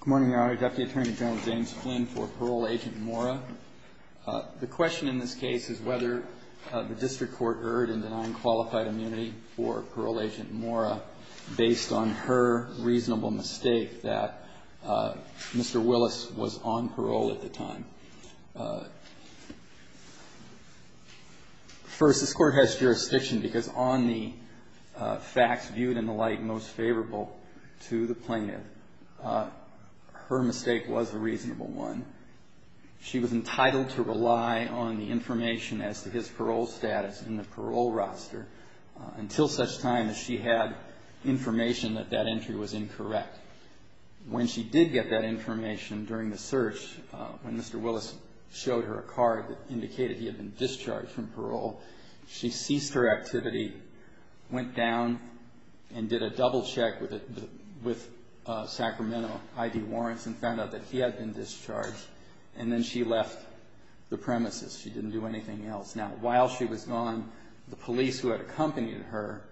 Good morning, Your Honor. Deputy Attorney General James Flynn for Parole Agent Mora. The question in this case is whether the district court erred in denying qualified immunity for Parole Agent Mora based on her reasonable mistake that Mr. Willis was on parole at the time. First, this court has jurisdiction because on the facts viewed in the light most favorable to the plaintiff, her mistake was a reasonable one. She was entitled to rely on the information as to his parole status in the parole roster until such time as she had information that that entry was incorrect. When she did get that information during the search, when Mr. Willis showed her a card that indicated he had been discharged from parole, she ceased her activity, went down and did a double check with Sacramento I.D. Warrants and found out that he had been discharged, and then she left the premises. She didn't do anything else. Now, while she was gone, the police who had accompanied her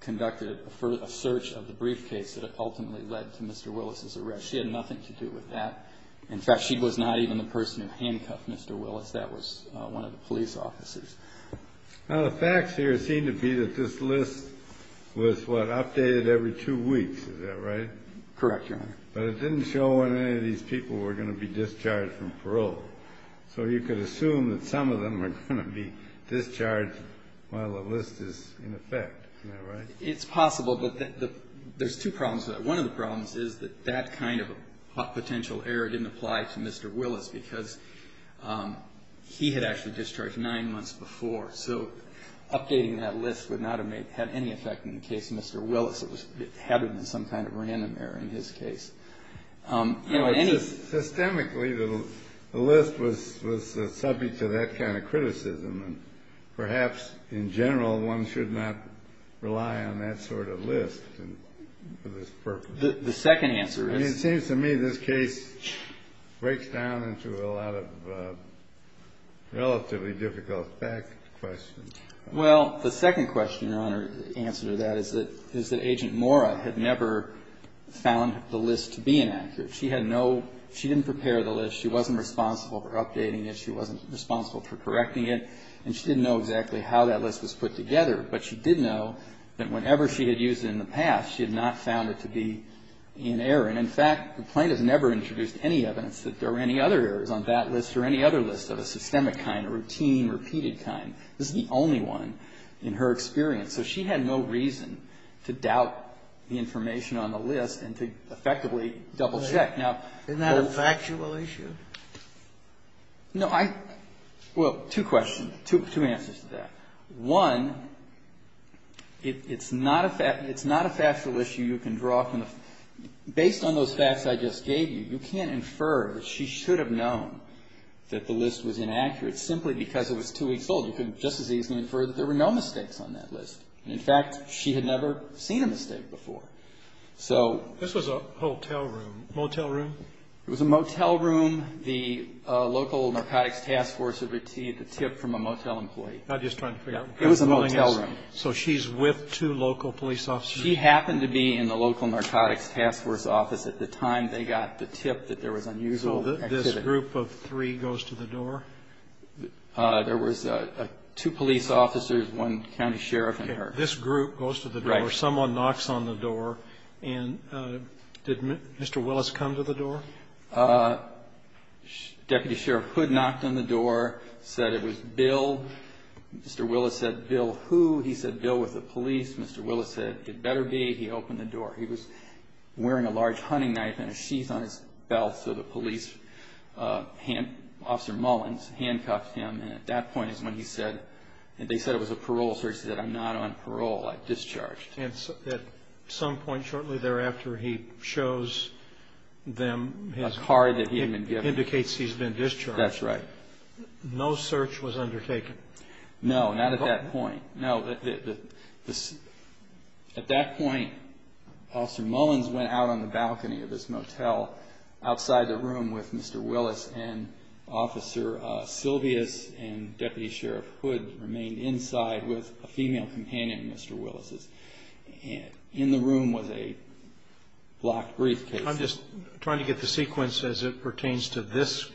conducted a search of the briefcase that ultimately led to Mr. Willis' arrest. She had nothing to do with that. In fact, she was not even the person who handcuffed Mr. Willis. That was one of the police officers. Now, the facts here seem to be that this list was, what, updated every two weeks. Is that right? Correct, Your Honor. But it didn't show when any of these people were going to be discharged from parole. So you could assume that some of them are going to be discharged while the list is in effect. It's possible, but there's two problems with that. One of the problems is that that kind of potential error didn't apply to Mr. Willis because he had actually discharged nine months before. So updating that list would not have had any effect in the case of Mr. Willis. It would have been some kind of random error in his case. Systemically, the list was subject to that kind of criticism, and perhaps in general one should not rely on that sort of list for this purpose. The second answer is? I mean, it seems to me this case breaks down into a lot of relatively difficult fact questions. Well, the second question, Your Honor, the answer to that is that Agent Mora had never found the list to be inaccurate. She had no – she didn't prepare the list. She wasn't responsible for updating it. She wasn't responsible for correcting it. And she didn't know exactly how that list was put together, but she did know that whenever she had used it in the past, she had not found it to be in error. And, in fact, the plaintiff never introduced any evidence that there were any other errors on that list or any other list of a systemic kind, a routine, repeated kind. This is the only one in her experience. So she had no reason to doubt the information on the list and to effectively double-check. Isn't that a factual issue? No, I – well, two questions, two answers to that. One, it's not a factual issue you can draw from the – based on those facts I just gave you, you can't infer that she should have known that the list was inaccurate simply because it was two weeks old. You couldn't just as easily infer that there were no mistakes on that list. And, in fact, she had never seen a mistake before. So – This was a hotel room, motel room? It was a motel room. The local narcotics task force had received a tip from a motel employee. I'm just trying to figure out – It was a motel room. So she's with two local police officers? She happened to be in the local narcotics task force office at the time they got the tip that there was unusual activity. So this group of three goes to the door? There was two police officers, one county sheriff in her. Okay. This group goes to the door. Right. There's someone knocks on the door, and did Mr. Willis come to the door? Deputy Sheriff Hood knocked on the door, said it was Bill. Mr. Willis said, Bill who? He said, Bill with the police. Mr. Willis said, it better be. He opened the door. He was wearing a large hunting knife and a sheath on his belt, so the police – Officer Mullins handcuffed him, and at that point is when he said – They said it was a parole search. He said, I'm not on parole. I've discharged. And at some point shortly thereafter, he shows them his – A card that he had been given. Indicates he's been discharged. That's right. No search was undertaken? No, not at that point. No. At that point, Officer Mullins went out on the balcony of this motel outside the room with Mr. Willis and Officer Silvius and Deputy Sheriff Hood remained inside with a female companion, Mr. Willis. In the room was a black briefcase. I'm just trying to get the sequence as it pertains to this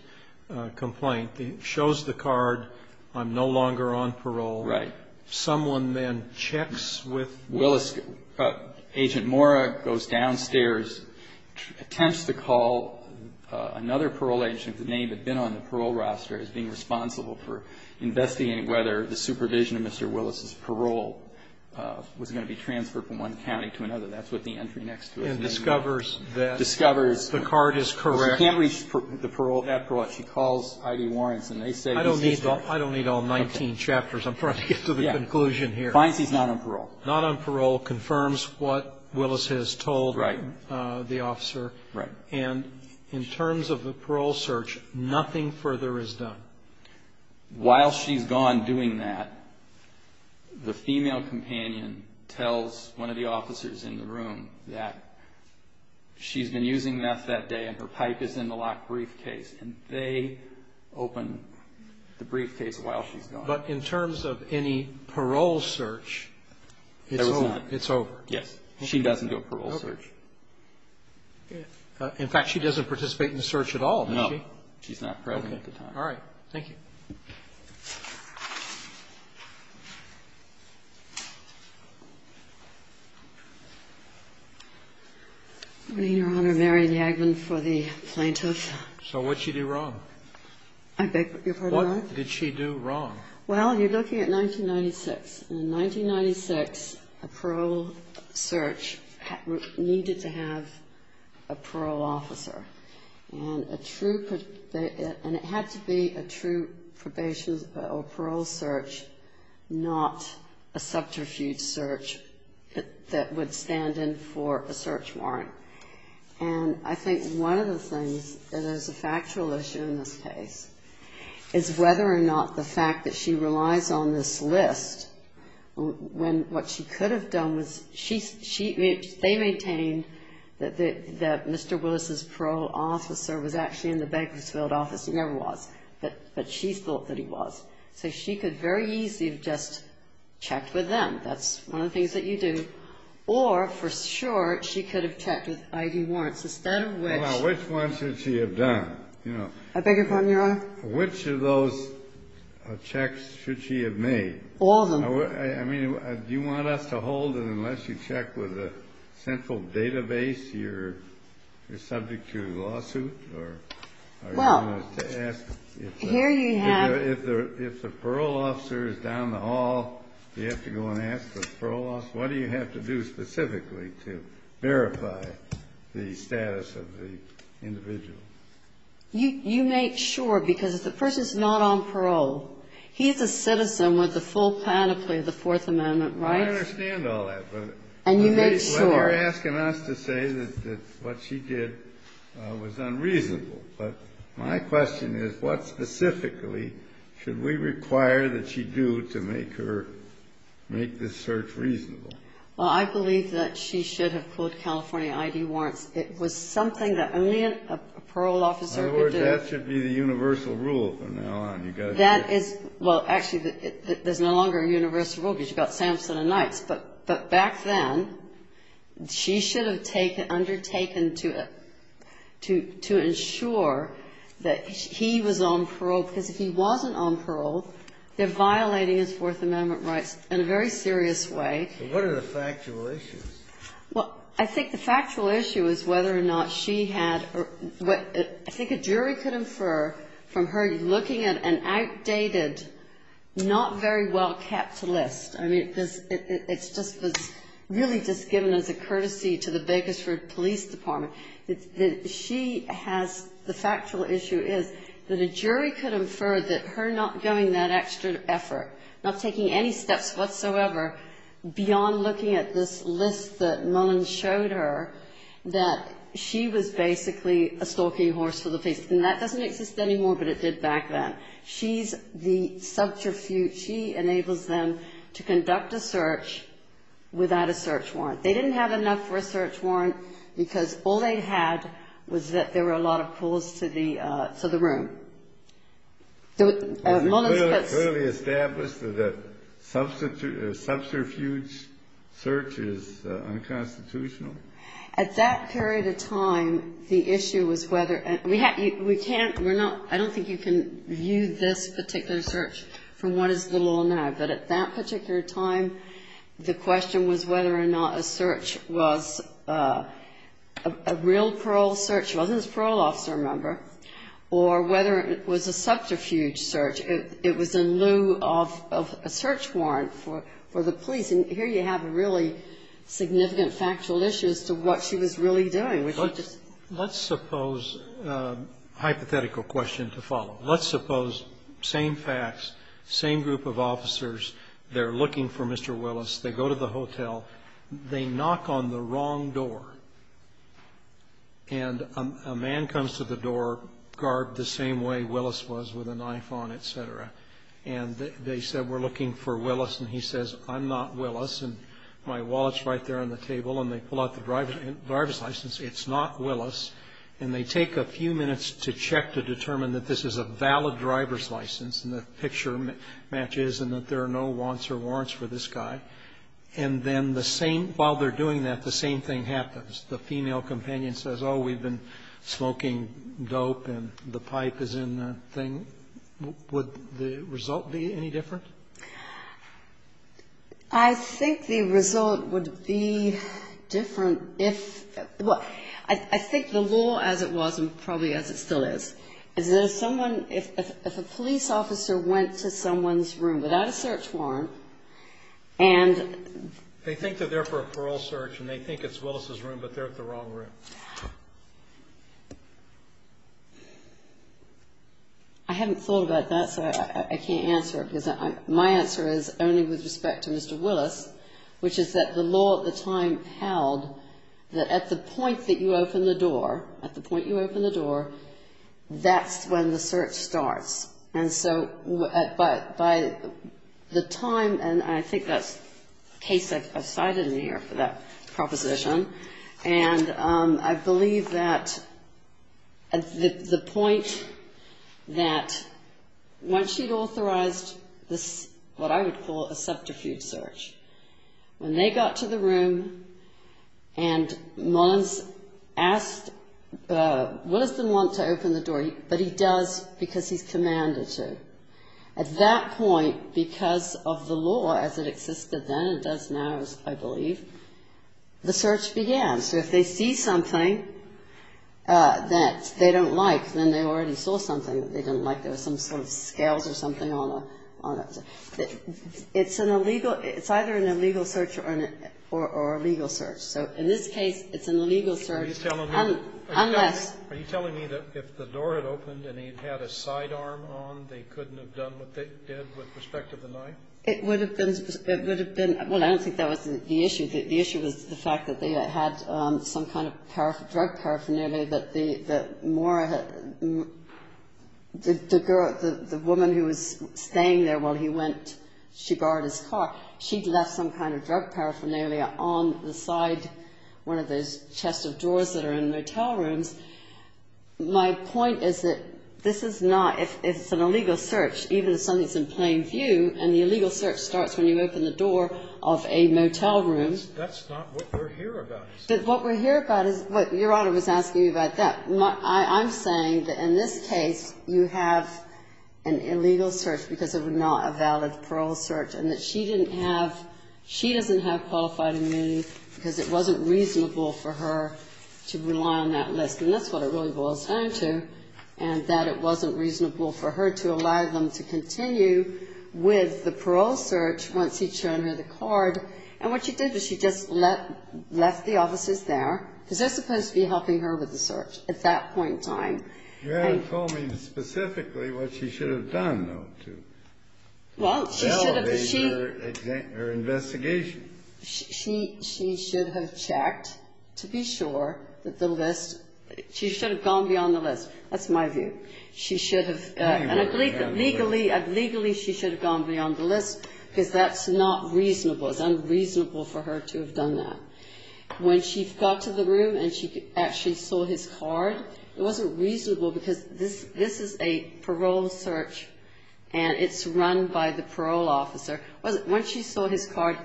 complaint. It shows the card, I'm no longer on parole. Right. Someone then checks with – Agent Mora goes downstairs, attempts to call another parole agent. The name had been on the parole roster as being responsible for investigating whether the supervision of Mr. Willis' parole was going to be transferred from one county to another. That's what the entry next to his name was. And discovers that the card is correct. Discovers. She can't reach the parole, that parole. She calls I.D. Warrens, and they say he's – I don't need all 19 chapters. I'm trying to get to the conclusion here. Finds he's not on parole. Not on parole. Confirms what Willis has told the officer. Right. And in terms of the parole search, nothing further is done. While she's gone doing that, the female companion tells one of the officers in the room that she's been using meth that day and her pipe is in the locked briefcase. And they open the briefcase while she's gone. But in terms of any parole search, it's over. It's over. Yes. She doesn't do a parole search. In fact, she doesn't participate in the search at all, does she? No. She's not present at the time. Okay. All right. Thank you. Good morning, Your Honor. Mary Jagman for the plaintiffs. So what'd she do wrong? I beg your pardon? What did she do wrong? Well, you're looking at 1996. In 1996, a parole search needed to have a parole officer. And a true per they and it had to be a true probation or parole search, not a subterfuge search that would stand in for a search warrant. And I think one of the things that is a factual issue in this case is whether or not the fact that she relies on this list when what she could have done was they maintained that Mr. Willis' parole officer was actually in the Bakersfield office. He never was. But she thought that he was. So she could very easily have just checked with them. That's one of the things that you do. Or, for short, she could have checked with ID warrants instead of which. Which one should she have done? I beg your pardon, Your Honor? Which of those checks should she have made? All of them. I mean, do you want us to hold it unless you check with a central database? You're subject to a lawsuit? Well, here you have. If the parole officer is down the hall, do you have to go and ask the parole officer what to do specifically to verify the status of the individual? You make sure, because if the person's not on parole, he's a citizen with the full panoply of the Fourth Amendment rights. I understand all that. And you make sure. But you're asking us to say that what she did was unreasonable. But my question is, what specifically should we require that she do to make her make this search reasonable? Well, I believe that she should have pulled California ID warrants. It was something that only a parole officer could do. In other words, that should be the universal rule from now on. You've got to do it. That is ñ well, actually, there's no longer a universal rule because you've got Sampson and Knights. But back then, she should have undertaken to ensure that he was on parole. Because if he wasn't on parole, they're violating his Fourth Amendment rights in a very serious way. So what are the factual issues? Well, I think the factual issue is whether or not she had ñ I think a jury could infer from her looking at an outdated, not very well-kept list. I mean, it's just ñ it's really just given as a courtesy to the Bakersford Police Department. She has ñ the factual issue is that a jury could infer that her not going that extra effort, not taking any steps whatsoever beyond looking at this list that Mullins showed her, that she was basically a stalking horse for the police. And that doesn't exist anymore, but it did back then. She's the subterfuge. She enables them to conduct a search without a search warrant. They didn't have enough for a search warrant because all they had was that there were a lot of calls to the room. So Mullins puts ñ Was it clearly established that a subterfuge search is unconstitutional? At that period of time, the issue was whether ñ we can't ñ we're not ñ I don't think you can view this particular search from what is the law now. But at that particular time, the question was whether or not a search was a real parole officer member or whether it was a subterfuge search. It was in lieu of a search warrant for the police. And here you have a really significant factual issue as to what she was really doing, which is just ñ Let's suppose ñ hypothetical question to follow. Let's suppose same facts, same group of officers, they're looking for Mr. Willis. They go to the hotel. They knock on the wrong door. And a man comes to the door, garbed the same way Willis was, with a knife on, et cetera. And they said, we're looking for Willis. And he says, I'm not Willis. And my wallet's right there on the table. And they pull out the driver's license. It's not Willis. And they take a few minutes to check to determine that this is a valid driver's license and the picture matches and that there are no wants or warrants for this guy. And then the same ñ while they're doing that, the same thing happens. The female companion says, oh, we've been smoking dope and the pipe is in the thing. Would the result be any different? I think the result would be different if ñ well, I think the law as it was and probably as it still is, is that if someone ñ if a police officer went to someone's They think they're there for a parole search and they think it's Willis' room, but they're at the wrong room. I haven't thought about that, so I can't answer it because my answer is only with respect to Mr. Willis, which is that the law at the time held that at the point that you open the door, at the point you open the door, that's when the search starts. And so by the time ñ and I think that's a case I've cited in here for that proposition. And I believe that at the point that once you'd authorized this, what I would call a subterfuge search, when they got to the room and Mons asked Willis didn't want to open the door, but he does because he's commanded to. At that point, because of the law as it existed then and does now, I believe, the search began. So if they see something that they don't like, then they already saw something that they didn't like. There were some sort of scales or something on it. It's an illegal ñ it's either an illegal search or a legal search. So in this case, it's an illegal search unless ñ Are you telling me that if the door had opened and he'd had a sidearm on, they couldn't have done what they did with respect to the knife? It would have been ñ well, I don't think that was the issue. The issue was the fact that they had some kind of drug paraphernalia that the woman who was staying there while he went, she borrowed his car. She'd left some kind of drug paraphernalia on the side, one of those chest of drawers that are in motel rooms. My point is that this is not ñ if it's an illegal search, even if something's in plain view, and the illegal search starts when you open the door of a motel room. That's not what we're here about. What we're here about is what Your Honor was asking about that. I'm saying that in this case, you have an illegal search because of not a valid parole search, and that she didn't have ñ she doesn't have qualified immunity because it wasn't reasonable for her to rely on that list. And that's what it really boils down to, and that it wasn't reasonable for her to allow them to continue with the parole search once he'd shown her the card. And what she did was she just left the offices there, because they're supposed to be helping her with the search at that point in time. Your Honor told me specifically what she should have done, though, to elevate her investigation. She should have checked to be sure that the list ñ she should have gone beyond the list. That's my view. She should have ñ and I believe that legally, legally she should have gone beyond the list, because that's not reasonable. It's unreasonable for her to have done that. When she got to the room and she actually saw his card, it wasn't reasonable because this is a parole search, and it's run by the parole officer. Once she saw his card,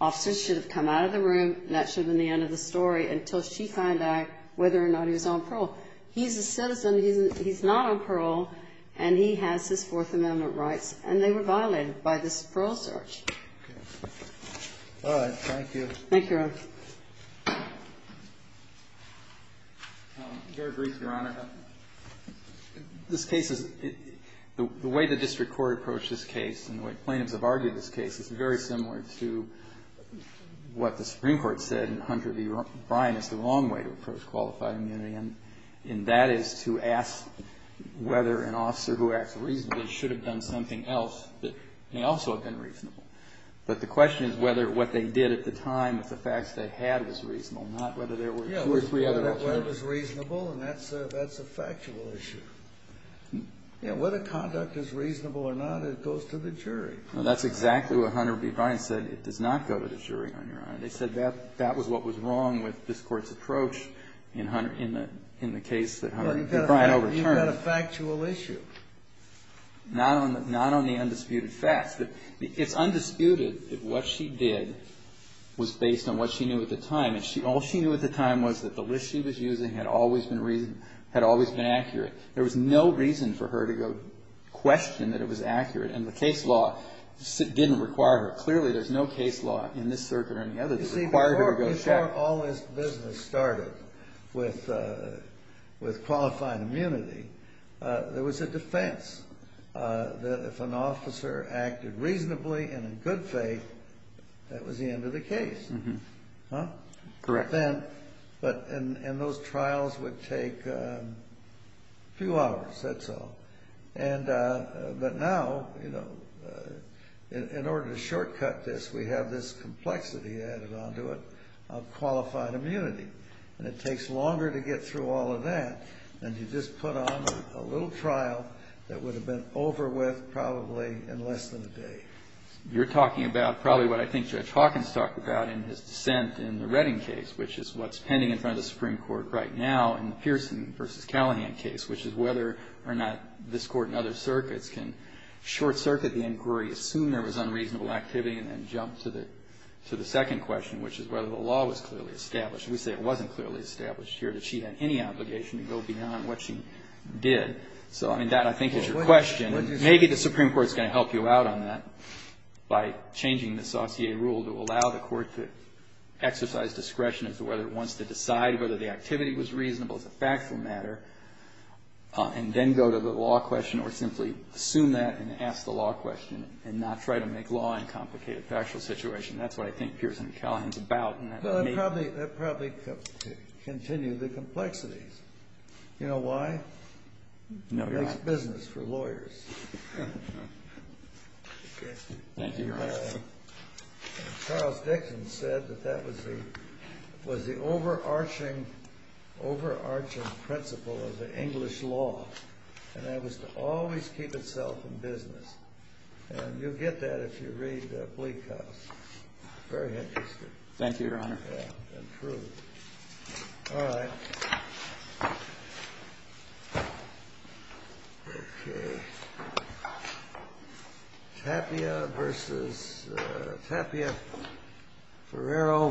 officers should have come out of the room, and that should have been the end of the story until she found out whether or not he was on parole. He's a citizen. He's not on parole, and he has his Fourth Amendment rights, and they were violated by this parole search. All right. Thank you. Thank you, Your Honor. I'm very brief, Your Honor. This case is ñ the way the district court approached this case and the way plaintiffs have argued this case is very similar to what the Supreme Court said in Hunter v. O'Brien is the wrong way to approach qualified immunity, and that is to ask whether an officer who acts reasonably should have done something else that may also have been reasonable. But the question is whether what they did at the time with the facts they had was reasonable, not whether there were two or three other options. Yeah, whether it was reasonable, and that's a factual issue. Yeah, whether conduct is reasonable or not, it goes to the jury. Well, that's exactly what Hunter v. O'Brien said. It does not go to the jury, Your Honor. They said that was what was wrong with this Court's approach in the case that Hunter v. O'Brien overturned. Well, you've got a factual issue. Not on the undisputed facts. It's undisputed that what she did was based on what she knew at the time. And all she knew at the time was that the list she was using had always been accurate. There was no reason for her to go question that it was accurate. And the case law didn't require her. Clearly, there's no case law in this circuit or any other that required her to go check. You see, before all this business started with qualifying immunity, there was a defense that if an officer acted reasonably and in good faith, that was the end of the case. Correct. And those trials would take a few hours, that's all. But now, in order to shortcut this, we have this complexity added onto it of qualified immunity. And it takes longer to get through all of that than to just put on a little trial that would have been over with probably in less than a day. You're talking about probably what I think Judge Hawkins talked about in his dissent in the Redding case, which is what's pending in front of the Supreme Court right now in the Pearson v. Callahan case, which is whether or not this Court and other circuits can short circuit the inquiry, assume there was unreasonable activity, and then jump to the second question, which is whether the law was clearly established. We say it wasn't clearly established here, that she had any obligation to go beyond what she did. So, I mean, that, I think, is your question. And maybe the Supreme Court's going to help you out on that by changing the sauté rule to allow the Court to exercise discretion as to whether it wants to decide whether the factual matter, and then go to the law question or simply assume that and ask the law question and not try to make law in a complicated factual situation. That's what I think Pearson v. Callahan is about. Well, that would probably continue the complexities. You know why? No, Your Honor. It makes business for lawyers. Thank you, Your Honor. Charles Dixon said that that was the overarching principle of the English law, and that was to always keep itself in business. And you'll get that if you read Bleak House. Very interesting. Thank you, Your Honor. Yeah, and true. All right. Okay. Tapia v. Ferraro v. Mukasey.